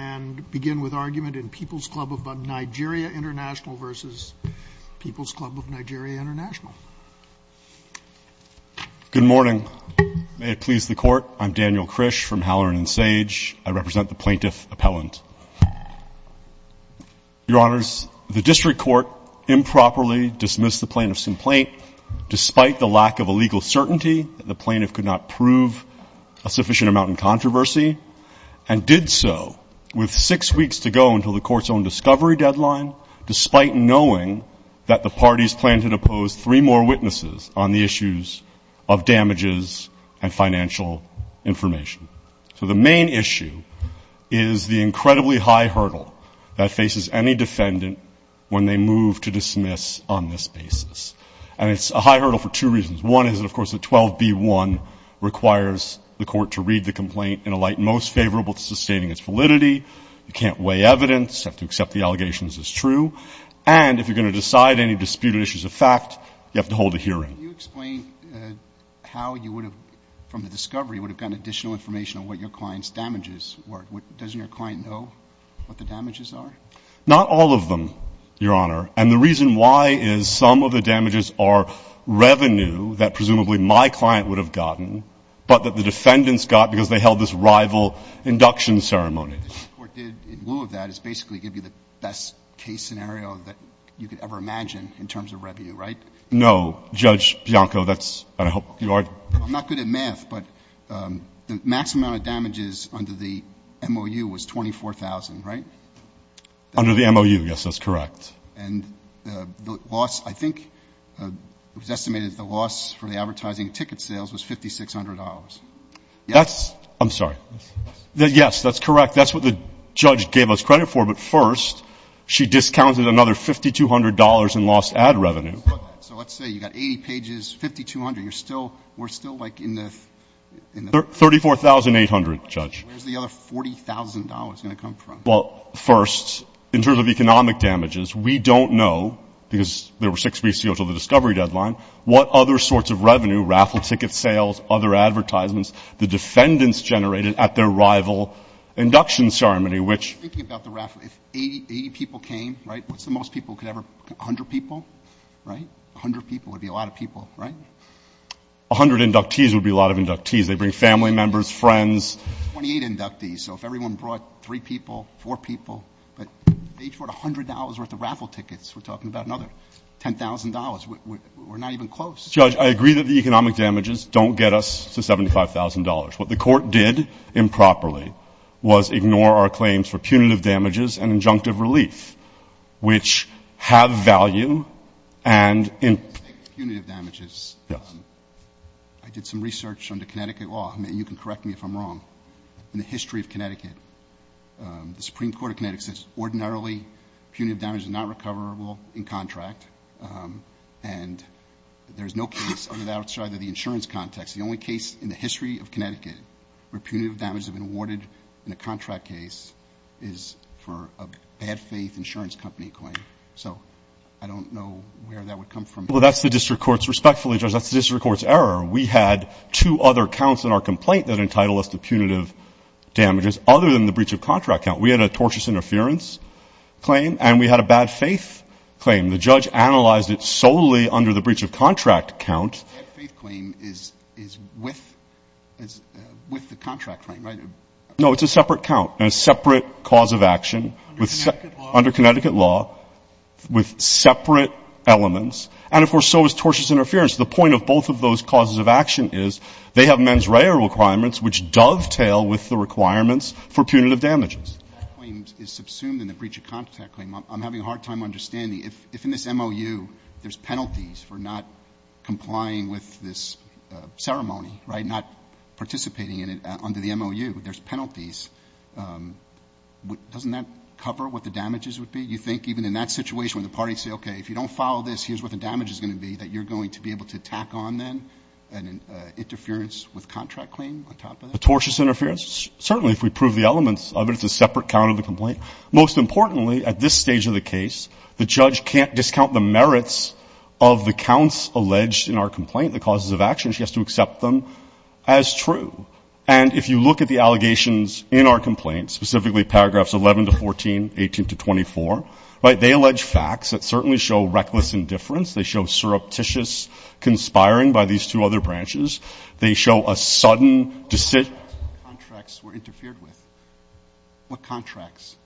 and begin with argument in People's Club of Nigeria International versus People's Club of Nigeria International. Good morning. May it please the court, I'm Daniel Krish from Halloran and Sage. I represent the plaintiff appellant. Your honors, the district court improperly dismissed the plaintiff's complaint despite the lack of a legal certainty that the plaintiff could not prove a sufficient amount in controversy and did so with six weeks to go until the court's own discovery deadline, despite knowing that the parties plan to depose three more witnesses on the issues of damages and financial information. So the main issue is the incredibly high hurdle that faces any defendant when they move to dismiss on this basis. And it's a high hurdle for two reasons. One is, of course, that 12b1 requires the court to read the complaint in a light most favorable to sustaining its validity. You can't weigh evidence. You have to accept the allegations as true. And if you're going to decide any disputed issues of fact, you have to hold a hearing. Can you explain how you would have, from the discovery, would have gotten additional information on what your client's damages were? Doesn't your client know what the damages are? Not all of them, your honor, and the reason why is some of the damages are revenue that presumably my client would have gotten, but that the defendants got because they held this rival induction ceremony. The court did, in lieu of that, is basically give you the best case scenario that you could ever imagine in terms of revenue, right? No. Judge Bianco, that's, and I hope you are. I'm not good at math, but the max amount of damages under the MOU was 24,000, right? Under the MOU, yes, that's correct. And the loss, I think, it was estimated that the loss for the advertising ticket sales was $5,600. That's, I'm sorry, yes, that's correct. That's what the judge gave us credit for, but first she discounted another $5,200 in lost ad revenue. So let's say you got 80 pages, 5,200, you're still, we're still like in the... 34,800, Judge. Where's the other $40,000 going to come from? Well, first, in terms of economic damages, we don't know because there were six weeks until the discovery deadline. What other sorts of revenue, raffle ticket sales, other advertisements, the defendants generated at their rival induction ceremony, which... Thinking about the raffle, if 80 people came, right? What's the most people could ever, 100 people, right? 100 people would be a lot of people, right? 100 inductees would be a lot of inductees. They bring family members, friends. 28 inductees, so if everyone brought three people, four people, but they each brought $100 worth of raffle tickets. We're talking about another $10,000. We're not even close. Judge, I agree that the economic damages don't get us to $75,000. What the court did improperly was ignore our claims for punitive damages and injunctive relief, which have value and... Speaking of punitive damages. Yes. I did some research under Connecticut law. I mean, you can correct me if I'm wrong. In the history of Connecticut, the Supreme Court of Connecticut says ordinarily punitive damage is not recoverable in contract. And there's no case other than outside of the insurance context. The only case in the history of Connecticut where punitive damage has been awarded in a contract case is for a bad-faith insurance company claim. So I don't know where that would come from. Well, that's the district court's... Respectfully, Judge, that's the district court's error. We had two other counts in our complaint that entitled us to punitive damages other than the breach of contract count. We had a tortious interference claim and we had a bad-faith claim. The judge analysed it solely under the breach of contract count. The bad-faith claim is with... ..is with the contract claim, right? No, it's a separate count and a separate cause of action. Under Connecticut law? Under Connecticut law. With separate elements. And, of course, so is tortious interference. The point of both of those causes of action is they have mens rea requirements which dovetail with the requirements for punitive damages. If that claim is subsumed in the breach of contract claim, I'm having a hard time understanding. If in this MOU there's penalties for not complying with this ceremony, right, not participating in it under the MOU, there's penalties, doesn't that cover what the damages would be? You think even in that situation when the parties say, OK, if you don't follow this, here's what the damage is going to be, that you're going to be able to tack on, then, an interference with contract claim on top of that? A tortious interference? Certainly, if we prove the elements of it. It's a separate count of the complaint. Most importantly, at this stage of the case, the judge can't discount the merits of the counts alleged in our complaint, the causes of action. She has to accept them as true. And if you look at the allegations in our complaint, specifically paragraphs 11 to 14, 18 to 24, right, they allege facts that certainly show reckless indifference. They show surreptitious conspiring by these two other branches. They show a sudden decision. Contracts were interfered with. What contracts?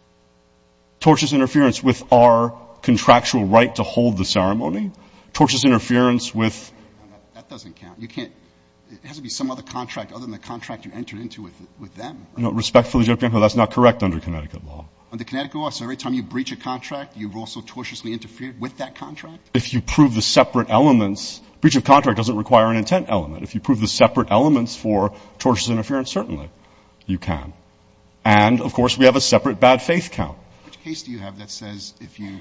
Tortious interference with our contractual right to hold the ceremony. Tortious interference with. That doesn't count. You can't, it has to be some other contract other than the contract you entered into with them. No, respectfully, that's not correct under Connecticut law. Under Connecticut law, so every time you breach a contract, you've also tortiously interfered with that contract? If you prove the separate elements, breach of contract doesn't require an intent element. If you prove the separate elements for tortious interference, certainly you can. And of course, we have a separate bad faith count. Which case do you have that says if you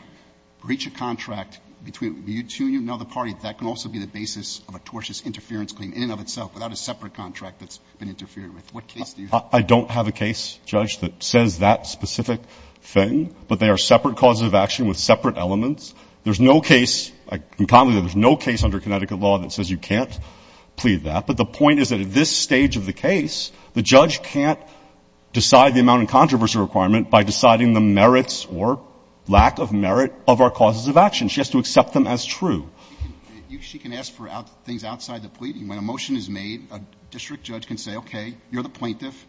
breach a contract between you two and another party, that can also be the basis of a tortious interference claim in and of itself without a separate contract that's been interfered with? What case do you have? I don't have a case, Judge, that says that specific thing. But they are separate causes of action with separate elements. There's no case, I can confidently say there's no case under Connecticut law that says you can't plead that. But the point is that at this stage of the case, the judge can't decide the amount of controversy requirement by deciding the merits or lack of merit of our causes of action. She has to accept them as true. She can ask for things outside the pleading. When a motion is made, a district judge can say, OK, you're the plaintiff.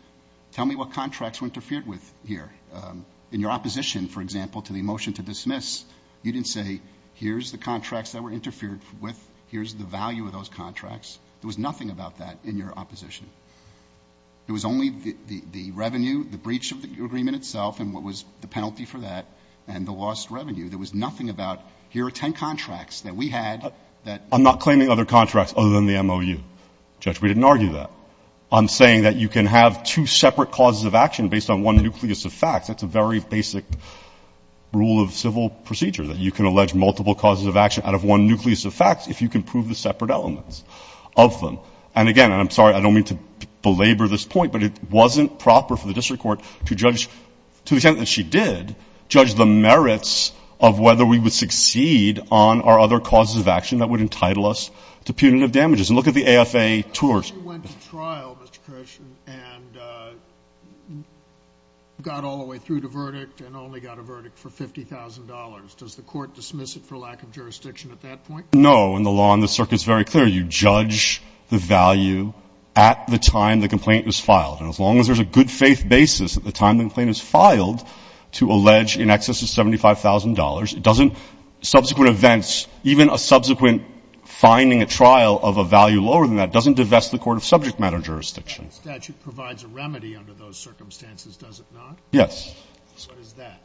Tell me what contracts were interfered with here. In your opposition, for example, to the motion to dismiss, you didn't say, here's the contracts that were interfered with, here's the value of those contracts. There was nothing about that in your opposition. It was only the revenue, the breach of the agreement itself and what was the penalty for that, and the lost revenue. There was nothing about, here are 10 contracts that we had that I'm not claiming other contracts other than the MOU. Judge, we didn't argue that. I'm saying that you can have two separate causes of action based on one nucleus of facts. That's a very basic rule of civil procedure, that you can allege multiple causes of action out of one nucleus of facts if you can prove the separate elements of them. And again, and I'm sorry, I don't mean to belabor this point, but it wasn't proper for the district court to judge, to the extent that she did, judge the merits of whether we would succeed on our other causes of action that would entitle us to punitive damages. And look at the AFA tours. You went to trial, Mr. Kirsh, and got all the way through the verdict and only got a verdict for $50,000. Does the court dismiss it for lack of jurisdiction at that point? No, and the law on the circuit's very clear. You judge the value at the time the complaint was filed. And as long as there's a good faith basis at the time the complaint is filed to allege in excess of $75,000, it doesn't, subsequent events, even a subsequent finding a trial of a value lower than that doesn't divest the court of subject matter jurisdiction. The statute provides a remedy under those circumstances, does it not? Yes. What is that?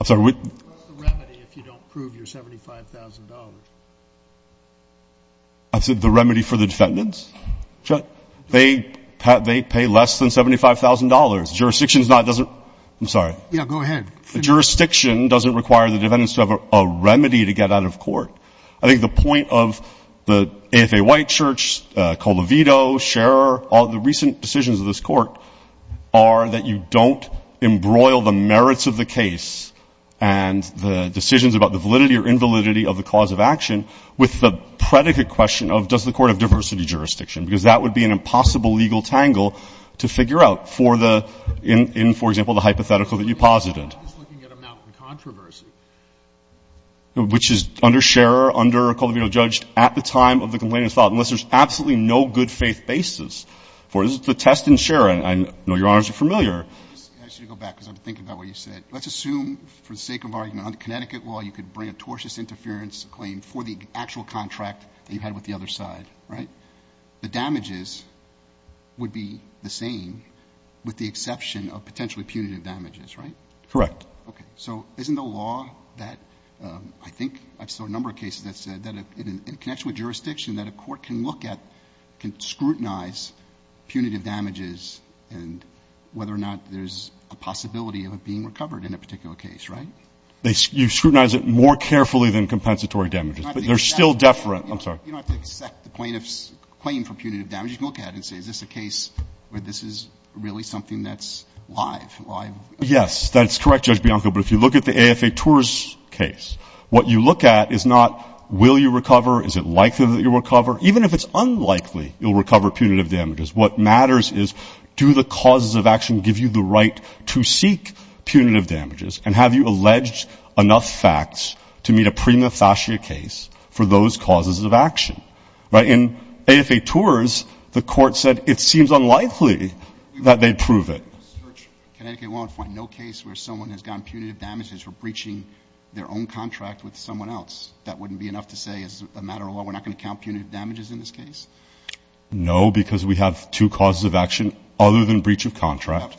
I'm sorry, what? What's the remedy if you don't prove your $75,000? I said the remedy for the defendants. They pay less than $75,000. Jurisdiction is not, doesn't, I'm sorry. Yeah, go ahead. Jurisdiction doesn't require the defendants to have a remedy to get out of court. I think the point of the AFA White Church, Colavito, Scherer, all the recent decisions of this court are that you don't embroil the merits of the case and the decisions about the validity or invalidity of the cause of action with the predicate question of, does the court have diversity jurisdiction? Because that would be an impossible legal tangle to figure out for the, in, for example, the hypothetical that you posited. I'm just looking at a mountain controversy. Which is under Scherer, under Colavito, judged at the time of the complainant's file, unless there's absolutely no good faith basis for it. This is the test in Scherer. And I know your honors are familiar. I should go back, because I'm thinking about what you said. Let's assume, for the sake of argument, under Connecticut law, you could bring a tortious interference claim for the actual contract that you had with the other side, right? The damages would be the same with the exception of potentially punitive damages, right? Correct. OK. So isn't the law that, I think, I've saw a number of cases that said that in connection with jurisdiction, that a court can look at, can scrutinize punitive damages, and whether or not there's a possibility of it being recovered in a particular case, right? You scrutinize it more carefully than compensatory damages. But they're still deferent. I'm sorry. You don't have to accept the plaintiff's claim for punitive damages. You can look at it and say, is this a case where this is really something that's live? Yes, that's correct, Judge Bianco. But if you look at the AFA Tours case, what you look at is not, will you recover? Is it likely that you'll recover? Even if it's unlikely you'll recover punitive damages, what matters is, do the causes of action give you the right to seek punitive damages? And have you alleged enough facts to meet a prima facie case for those causes of action, right? In AFA Tours, the court said it seems unlikely that they'd prove it. The search in Connecticut won't find no case where someone has gotten punitive damages for breaching their own contract with someone else. That wouldn't be enough to say, as a matter of law, we're not going to count punitive damages in this case? No, because we have two causes of action other than breach of contract.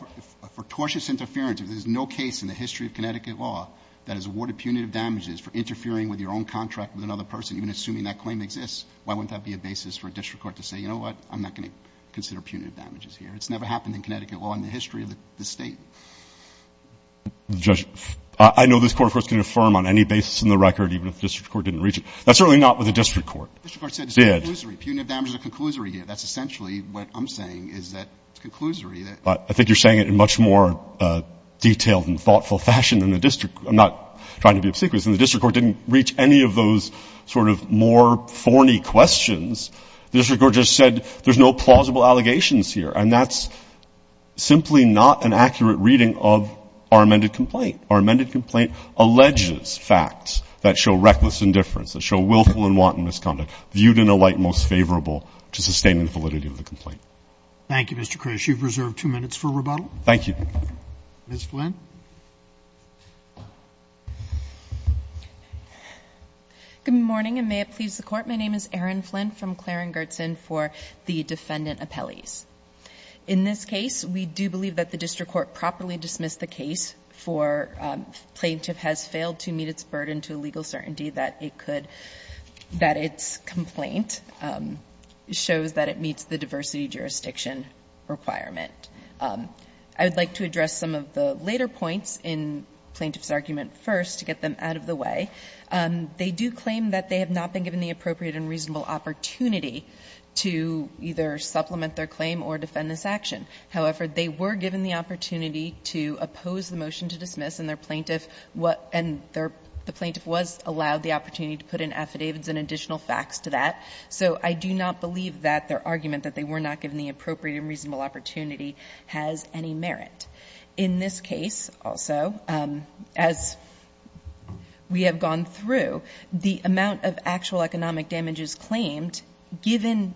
For tortious interference, if there's no case in the history of Connecticut law that has awarded punitive damages for interfering with your own contract with another person, even assuming that claim exists, why wouldn't that be a basis for a district court to say, you know what? I'm not going to consider punitive damages here. It's never happened in Connecticut law in the history of the State. Judge, I know this Court, of course, can affirm on any basis in the record, even if the district court didn't reach it. That's certainly not what the district court did. The district court said it's a conclusory. Punitive damages are a conclusory here. That's essentially what I'm saying, is that it's a conclusory. I think you're saying it in much more detailed and thoughtful fashion than the district. I'm not trying to be obsequious. And the district court didn't reach any of those sort of more thorny questions. The district court just said, there's no plausible allegations here. And that's simply not an accurate reading of our amended complaint. Our amended complaint alleges facts that show reckless indifference, that show willful and wanton misconduct, viewed in a light most favorable to sustaining the validity of the complaint. Thank you, Mr. Krish. You've reserved two minutes for rebuttal. Thank you. Ms. Flynn. Good morning, and may it please the Court. My name is Erin Flynn from Claren-Gertson for the defendant appellees. In this case, we do believe that the district court properly dismissed the case for plaintiff has failed to meet its burden to a legal certainty that it could that its complaint shows that it meets the diversity jurisdiction requirement. I would like to address some of the later points in plaintiff's argument first to get them out of the way. The plaintiff was given the opportunity to either supplement their claim or defend this action. However, they were given the opportunity to oppose the motion to dismiss, and their plaintiff was allowed the opportunity to put in affidavits and additional facts to that. So I do not believe that their argument that they were not given the appropriate and reasonable opportunity has any merit. In this case, also, as we have gone through, the amount of actual economic damages claimed, given,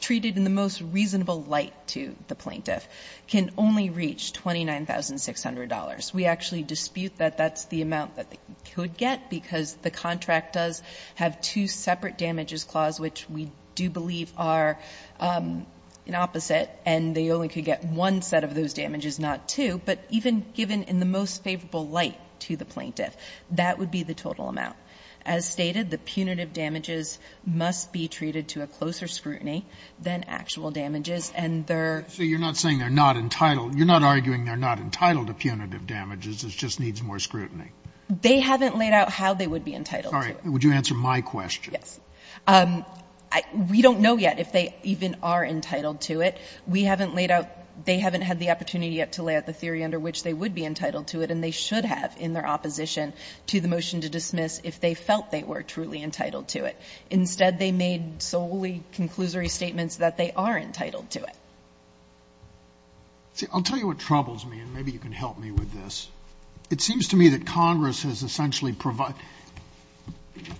treated in the most reasonable light to the plaintiff, can only reach $29,600. We actually dispute that that's the amount that they could get, because the contract does have two separate damages clause, which we do believe are an opposite, and they only could get one set of those damages, not two, but even given in the most favorable light to the plaintiff, that would be the total amount. As stated, the punitive damages must be treated to a closer scrutiny than actual damages, and their ---- Scalia, you're not saying they're not entitled. You're not arguing they're not entitled to punitive damages. It just needs more scrutiny. They haven't laid out how they would be entitled to it. Would you answer my question? Yes. We don't know yet if they even are entitled to it. We haven't laid out they haven't had the opportunity yet to lay out the theory under which they would be entitled to it, and they should have in their opposition to the motion to dismiss if they felt they were truly entitled to it. Instead, they made solely conclusory statements that they are entitled to it. See, I'll tell you what troubles me, and maybe you can help me with this. It seems to me that Congress has essentially provided ----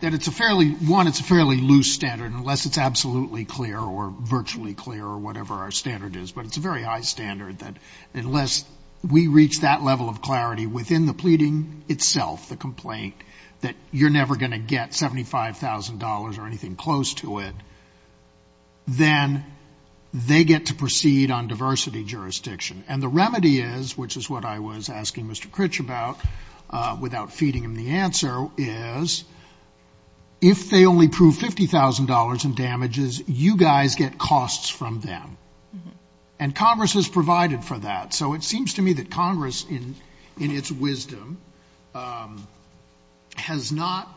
that it's a fairly ---- one, it's a fairly loose standard, unless it's absolutely clear or virtually clear or whatever our standard is, but it's a very high standard that unless we reach that level of clarity within the pleading itself, the complaint, that you're never going to get $75,000 or anything close to it, then they get to proceed on diversity jurisdiction, and the remedy is, which is what I was asking Mr. Critch about without feeding him the answer, is if they only prove $50,000 in damages, you guys get costs from them, and Congress has provided for that. So it seems to me that Congress, in its wisdom, has not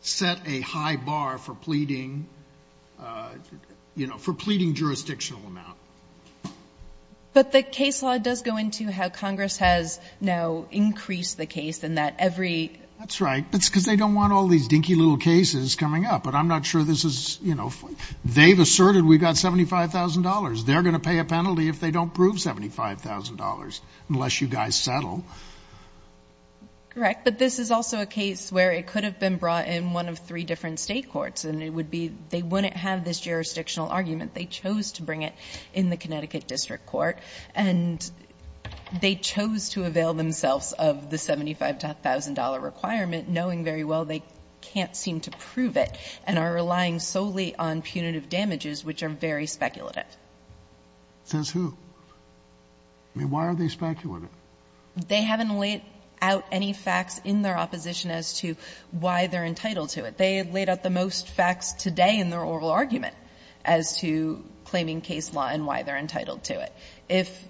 set a high bar for pleading ---- you know, for pleading jurisdictional amount. But the case law does go into how Congress has now increased the case in that every That's right. That's because they don't want all these dinky little cases coming up. But I'm not sure this is, you know, they've asserted we've got $75,000. They're going to pay a penalty if they don't prove $75,000, unless you guys settle. Correct. But this is also a case where it could have been brought in one of three different State courts, and it would be they wouldn't have this jurisdictional argument. They chose to bring it in the Connecticut District Court, and they chose to avail themselves of the $75,000 requirement, knowing very well they can't seem to prove it, and are relying solely on punitive damages, which are very speculative. Says who? I mean, why are they speculative? They haven't laid out any facts in their opposition as to why they're entitled to it. They laid out the most facts today in their oral argument as to claiming case law and why they're entitled to it. If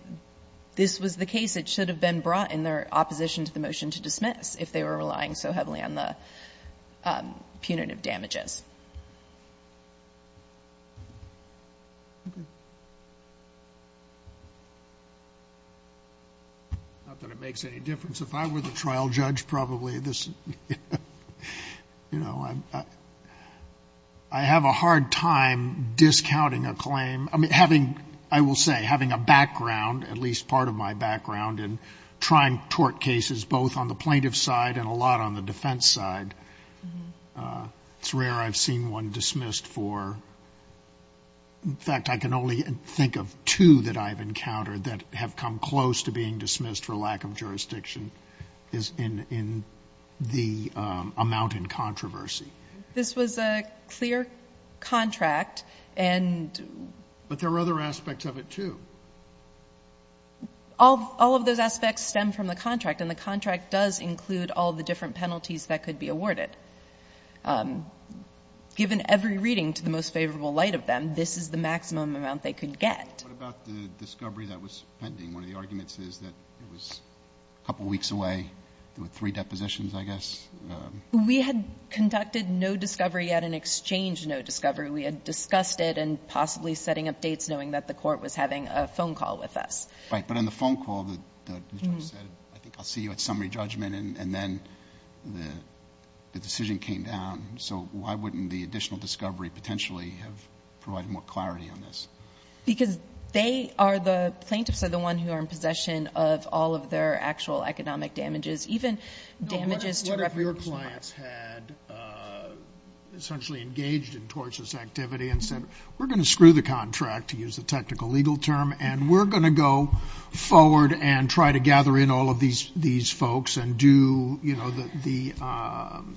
this was the case, it should have been brought in their opposition to the motion to dismiss if they were relying so heavily on the punitive damages. Not that it makes any difference. If I were the trial judge, probably this, you know, I have a hard time discounting a claim. I mean, having, I will say, having a background, at least part of my background in trying tort cases, both on the plaintiff's side and a lot on the defense side. It's rare I've seen one dismissed for, in fact, I can only think of two that I've encountered that have come close to being dismissed for lack of jurisdiction in the amount in controversy. This was a clear contract and. But there were other aspects of it, too. All of those aspects stem from the contract. And the contract does include all the different penalties that could be awarded. Given every reading to the most favorable light of them, this is the maximum amount they could get. What about the discovery that was pending? One of the arguments is that it was a couple of weeks away. There were three depositions, I guess. We had conducted no discovery yet and exchanged no discovery. We had discussed it and possibly setting up dates knowing that the Court was having a phone call with us. Right. But in the phone call, the judge said, I think I'll see you at summary judgment. And then the decision came down. So why wouldn't the additional discovery potentially have provided more clarity on this? Because they are the plaintiffs are the ones who are in possession of all of their actual economic damages, even damages to reputable clients. What if your clients had essentially engaged in tortious activity and said, we're going to screw the contract, to use the technical legal term, and we're going to go forward and try to gather in all of these folks and do, you know, the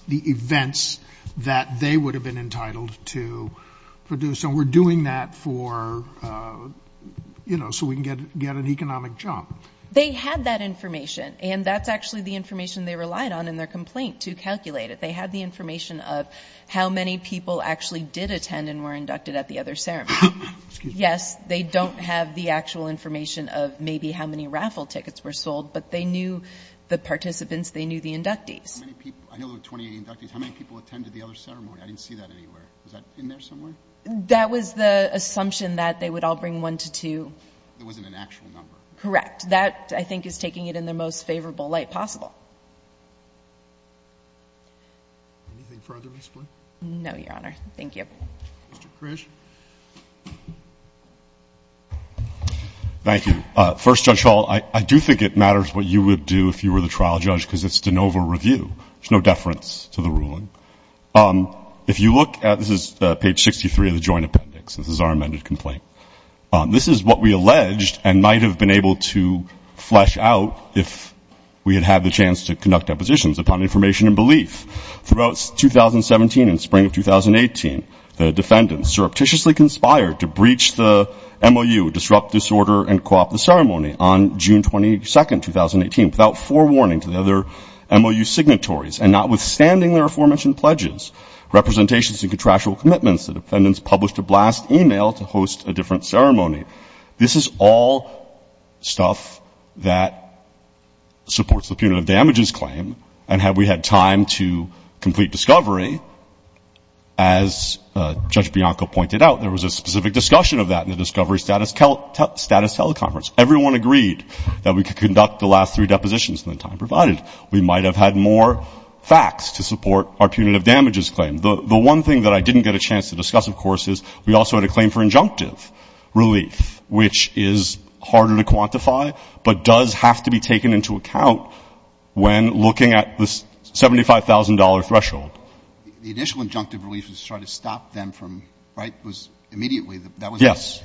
events that they would have been entitled to produce. And we're doing that for, you know, so we can get an economic jump. They had that information. And that's actually the information they relied on in their complaint to calculate it. They had the information of how many people actually did attend and were inducted at the other ceremony. Yes, they don't have the actual information of maybe how many raffle tickets were sold, but they knew the participants. They knew the inductees. I know there were 28 inductees. How many people attended the other ceremony? I didn't see that anywhere. Was that in there somewhere? That was the assumption that they would all bring one to two. It wasn't an actual number. Correct. That, I think, is taking it in the most favorable light possible. Anything further to explain? No, Your Honor. Thank you. Mr. Krish. Thank you. First, Judge Hall, I do think it matters what you would do if you were the trial judge, because it's de novo review. There's no deference to the ruling. If you look at this, this is page 63 of the joint appendix. This is our amended complaint. This is what we alleged and might have been able to flesh out if we had had the chance to conduct depositions upon information and belief. Throughout 2017 and spring of 2018, the defendants surreptitiously conspired to breach the MOU, disrupt disorder and co-opt the ceremony, on June 22, 2018, without forewarning to the other MOU signatories, and notwithstanding their aforementioned pledges, representations, and contractual commitments, the This is all stuff that supports the punitive damages claim, and had we had time to complete discovery, as Judge Bianco pointed out, there was a specific discussion of that in the discovery status teleconference. Everyone agreed that we could conduct the last three depositions in the time provided. We might have had more facts to support our punitive damages claim. The one thing that I didn't get a chance to discuss, of course, is we also had a relief, which is harder to quantify, but does have to be taken into account when looking at the $75,000 threshold. The initial injunctive relief was to try to stop them from, right, it was immediately, that wasn't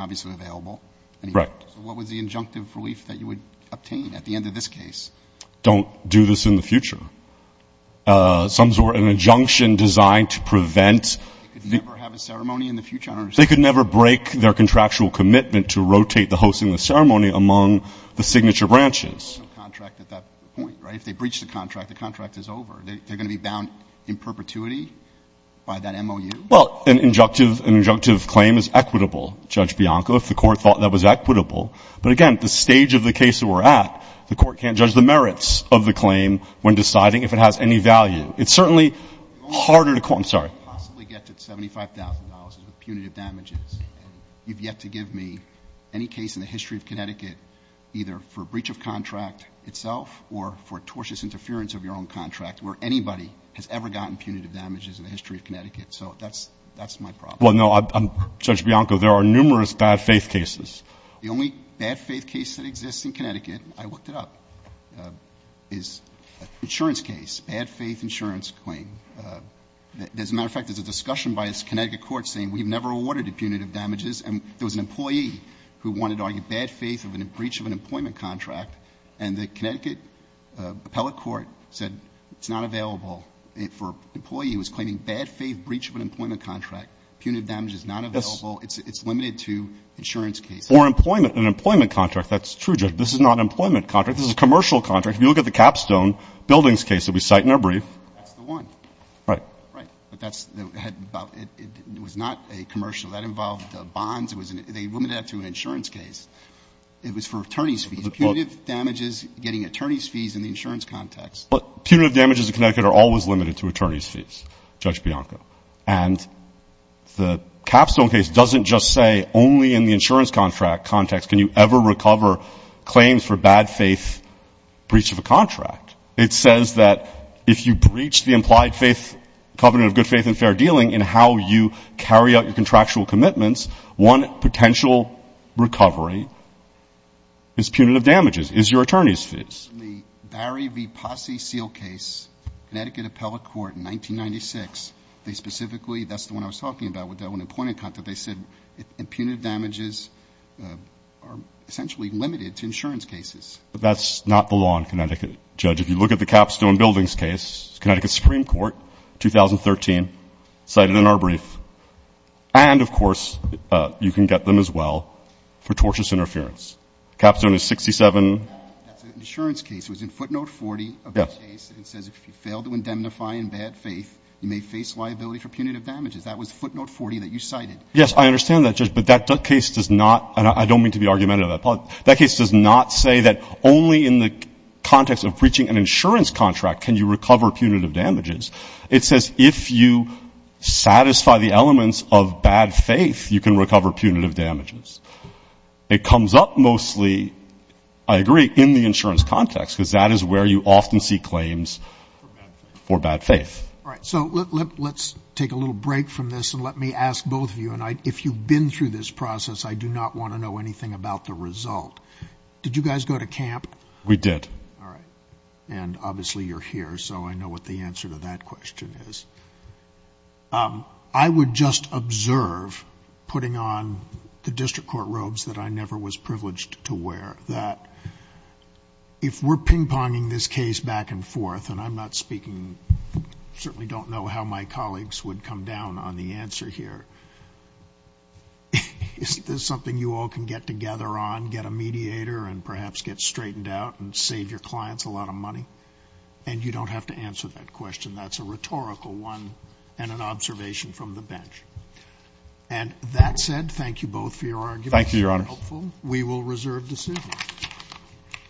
obviously available. Right. So what was the injunctive relief that you would obtain at the end of this case? Don't do this in the future. Some sort of an injunction designed to prevent. They could never have a ceremony in the future, I understand. They could never break their contractual commitment to rotate the hosting of the ceremony among the signature branches. There's no contract at that point, right? If they breach the contract, the contract is over. They're going to be bound in perpetuity by that MOU? Well, an injunctive claim is equitable, Judge Bianco, if the Court thought that was equitable. But again, at the stage of the case that we're at, the Court can't judge the merits of the claim when deciding if it has any value. It's certainly harder to claim. I'm sorry. You've yet to give me any case in the history of Connecticut either for breach of contract itself or for tortious interference of your own contract where anybody has ever gotten punitive damages in the history of Connecticut. So that's my problem. Well, no, Judge Bianco, there are numerous bad-faith cases. The only bad-faith case that exists in Connecticut, I looked it up, is an insurance case, bad-faith insurance claim. As a matter of fact, there's a discussion by a Connecticut court saying we've never awarded punitive damages. And there was an employee who wanted to argue bad faith of a breach of an employment contract, and the Connecticut appellate court said it's not available for an employee who was claiming bad-faith breach of an employment contract. Punitive damage is not available. It's limited to insurance cases. Or employment, an employment contract. That's true, Judge. This is not an employment contract. This is a commercial contract. If you look at the Capstone Buildings case that we cite in our brief. That's the one. Right. Right. But that's about — it was not a commercial. That involved bonds. They limited it to an insurance case. It was for attorney's fees. Punitive damages, getting attorney's fees in the insurance context. Punitive damages in Connecticut are always limited to attorney's fees, Judge Bianco. And the Capstone case doesn't just say only in the insurance contract context can you ever recover claims for bad-faith breach of a contract. It says that if you breach the implied faith covenant of good faith and fair dealing in how you carry out your contractual commitments, one potential recovery is punitive damages, is your attorney's fees. In the Barry v. Posse seal case, Connecticut appellate court in 1996, they specifically — that's the one I was talking about with the employment contract. They said punitive damages are essentially limited to insurance cases. But that's not the law in Connecticut, Judge. If you look at the Capstone Buildings case, Connecticut Supreme Court, 2013, cited in our brief. And, of course, you can get them as well for tortious interference. Capstone is 67 — That's an insurance case. It was in footnote 40 of the case. Yes. It says if you fail to indemnify in bad faith, you may face liability for punitive damages. That was footnote 40 that you cited. Yes. I understand that, Judge. But that case does not — and I don't mean to be argumentative. That case does not say that only in the context of breaching an insurance contract can you recover punitive damages. It says if you satisfy the elements of bad faith, you can recover punitive damages. It comes up mostly, I agree, in the insurance context, because that is where you often see claims for bad faith. All right. So let's take a little break from this, and let me ask both of you — and if you've been through this process, I do not want to know anything about the result. Did you guys go to camp? We did. All right. And obviously you're here, so I know what the answer to that question is. I would just observe, putting on the district court robes that I never was privileged to and I'm not speaking — certainly don't know how my colleagues would come down on the answer here. Is this something you all can get together on, get a mediator and perhaps get straightened out and save your clients a lot of money? And you don't have to answer that question. That's a rhetorical one and an observation from the bench. And that said, thank you both for your argument. Thank you, Your Honor. We will reserve decision.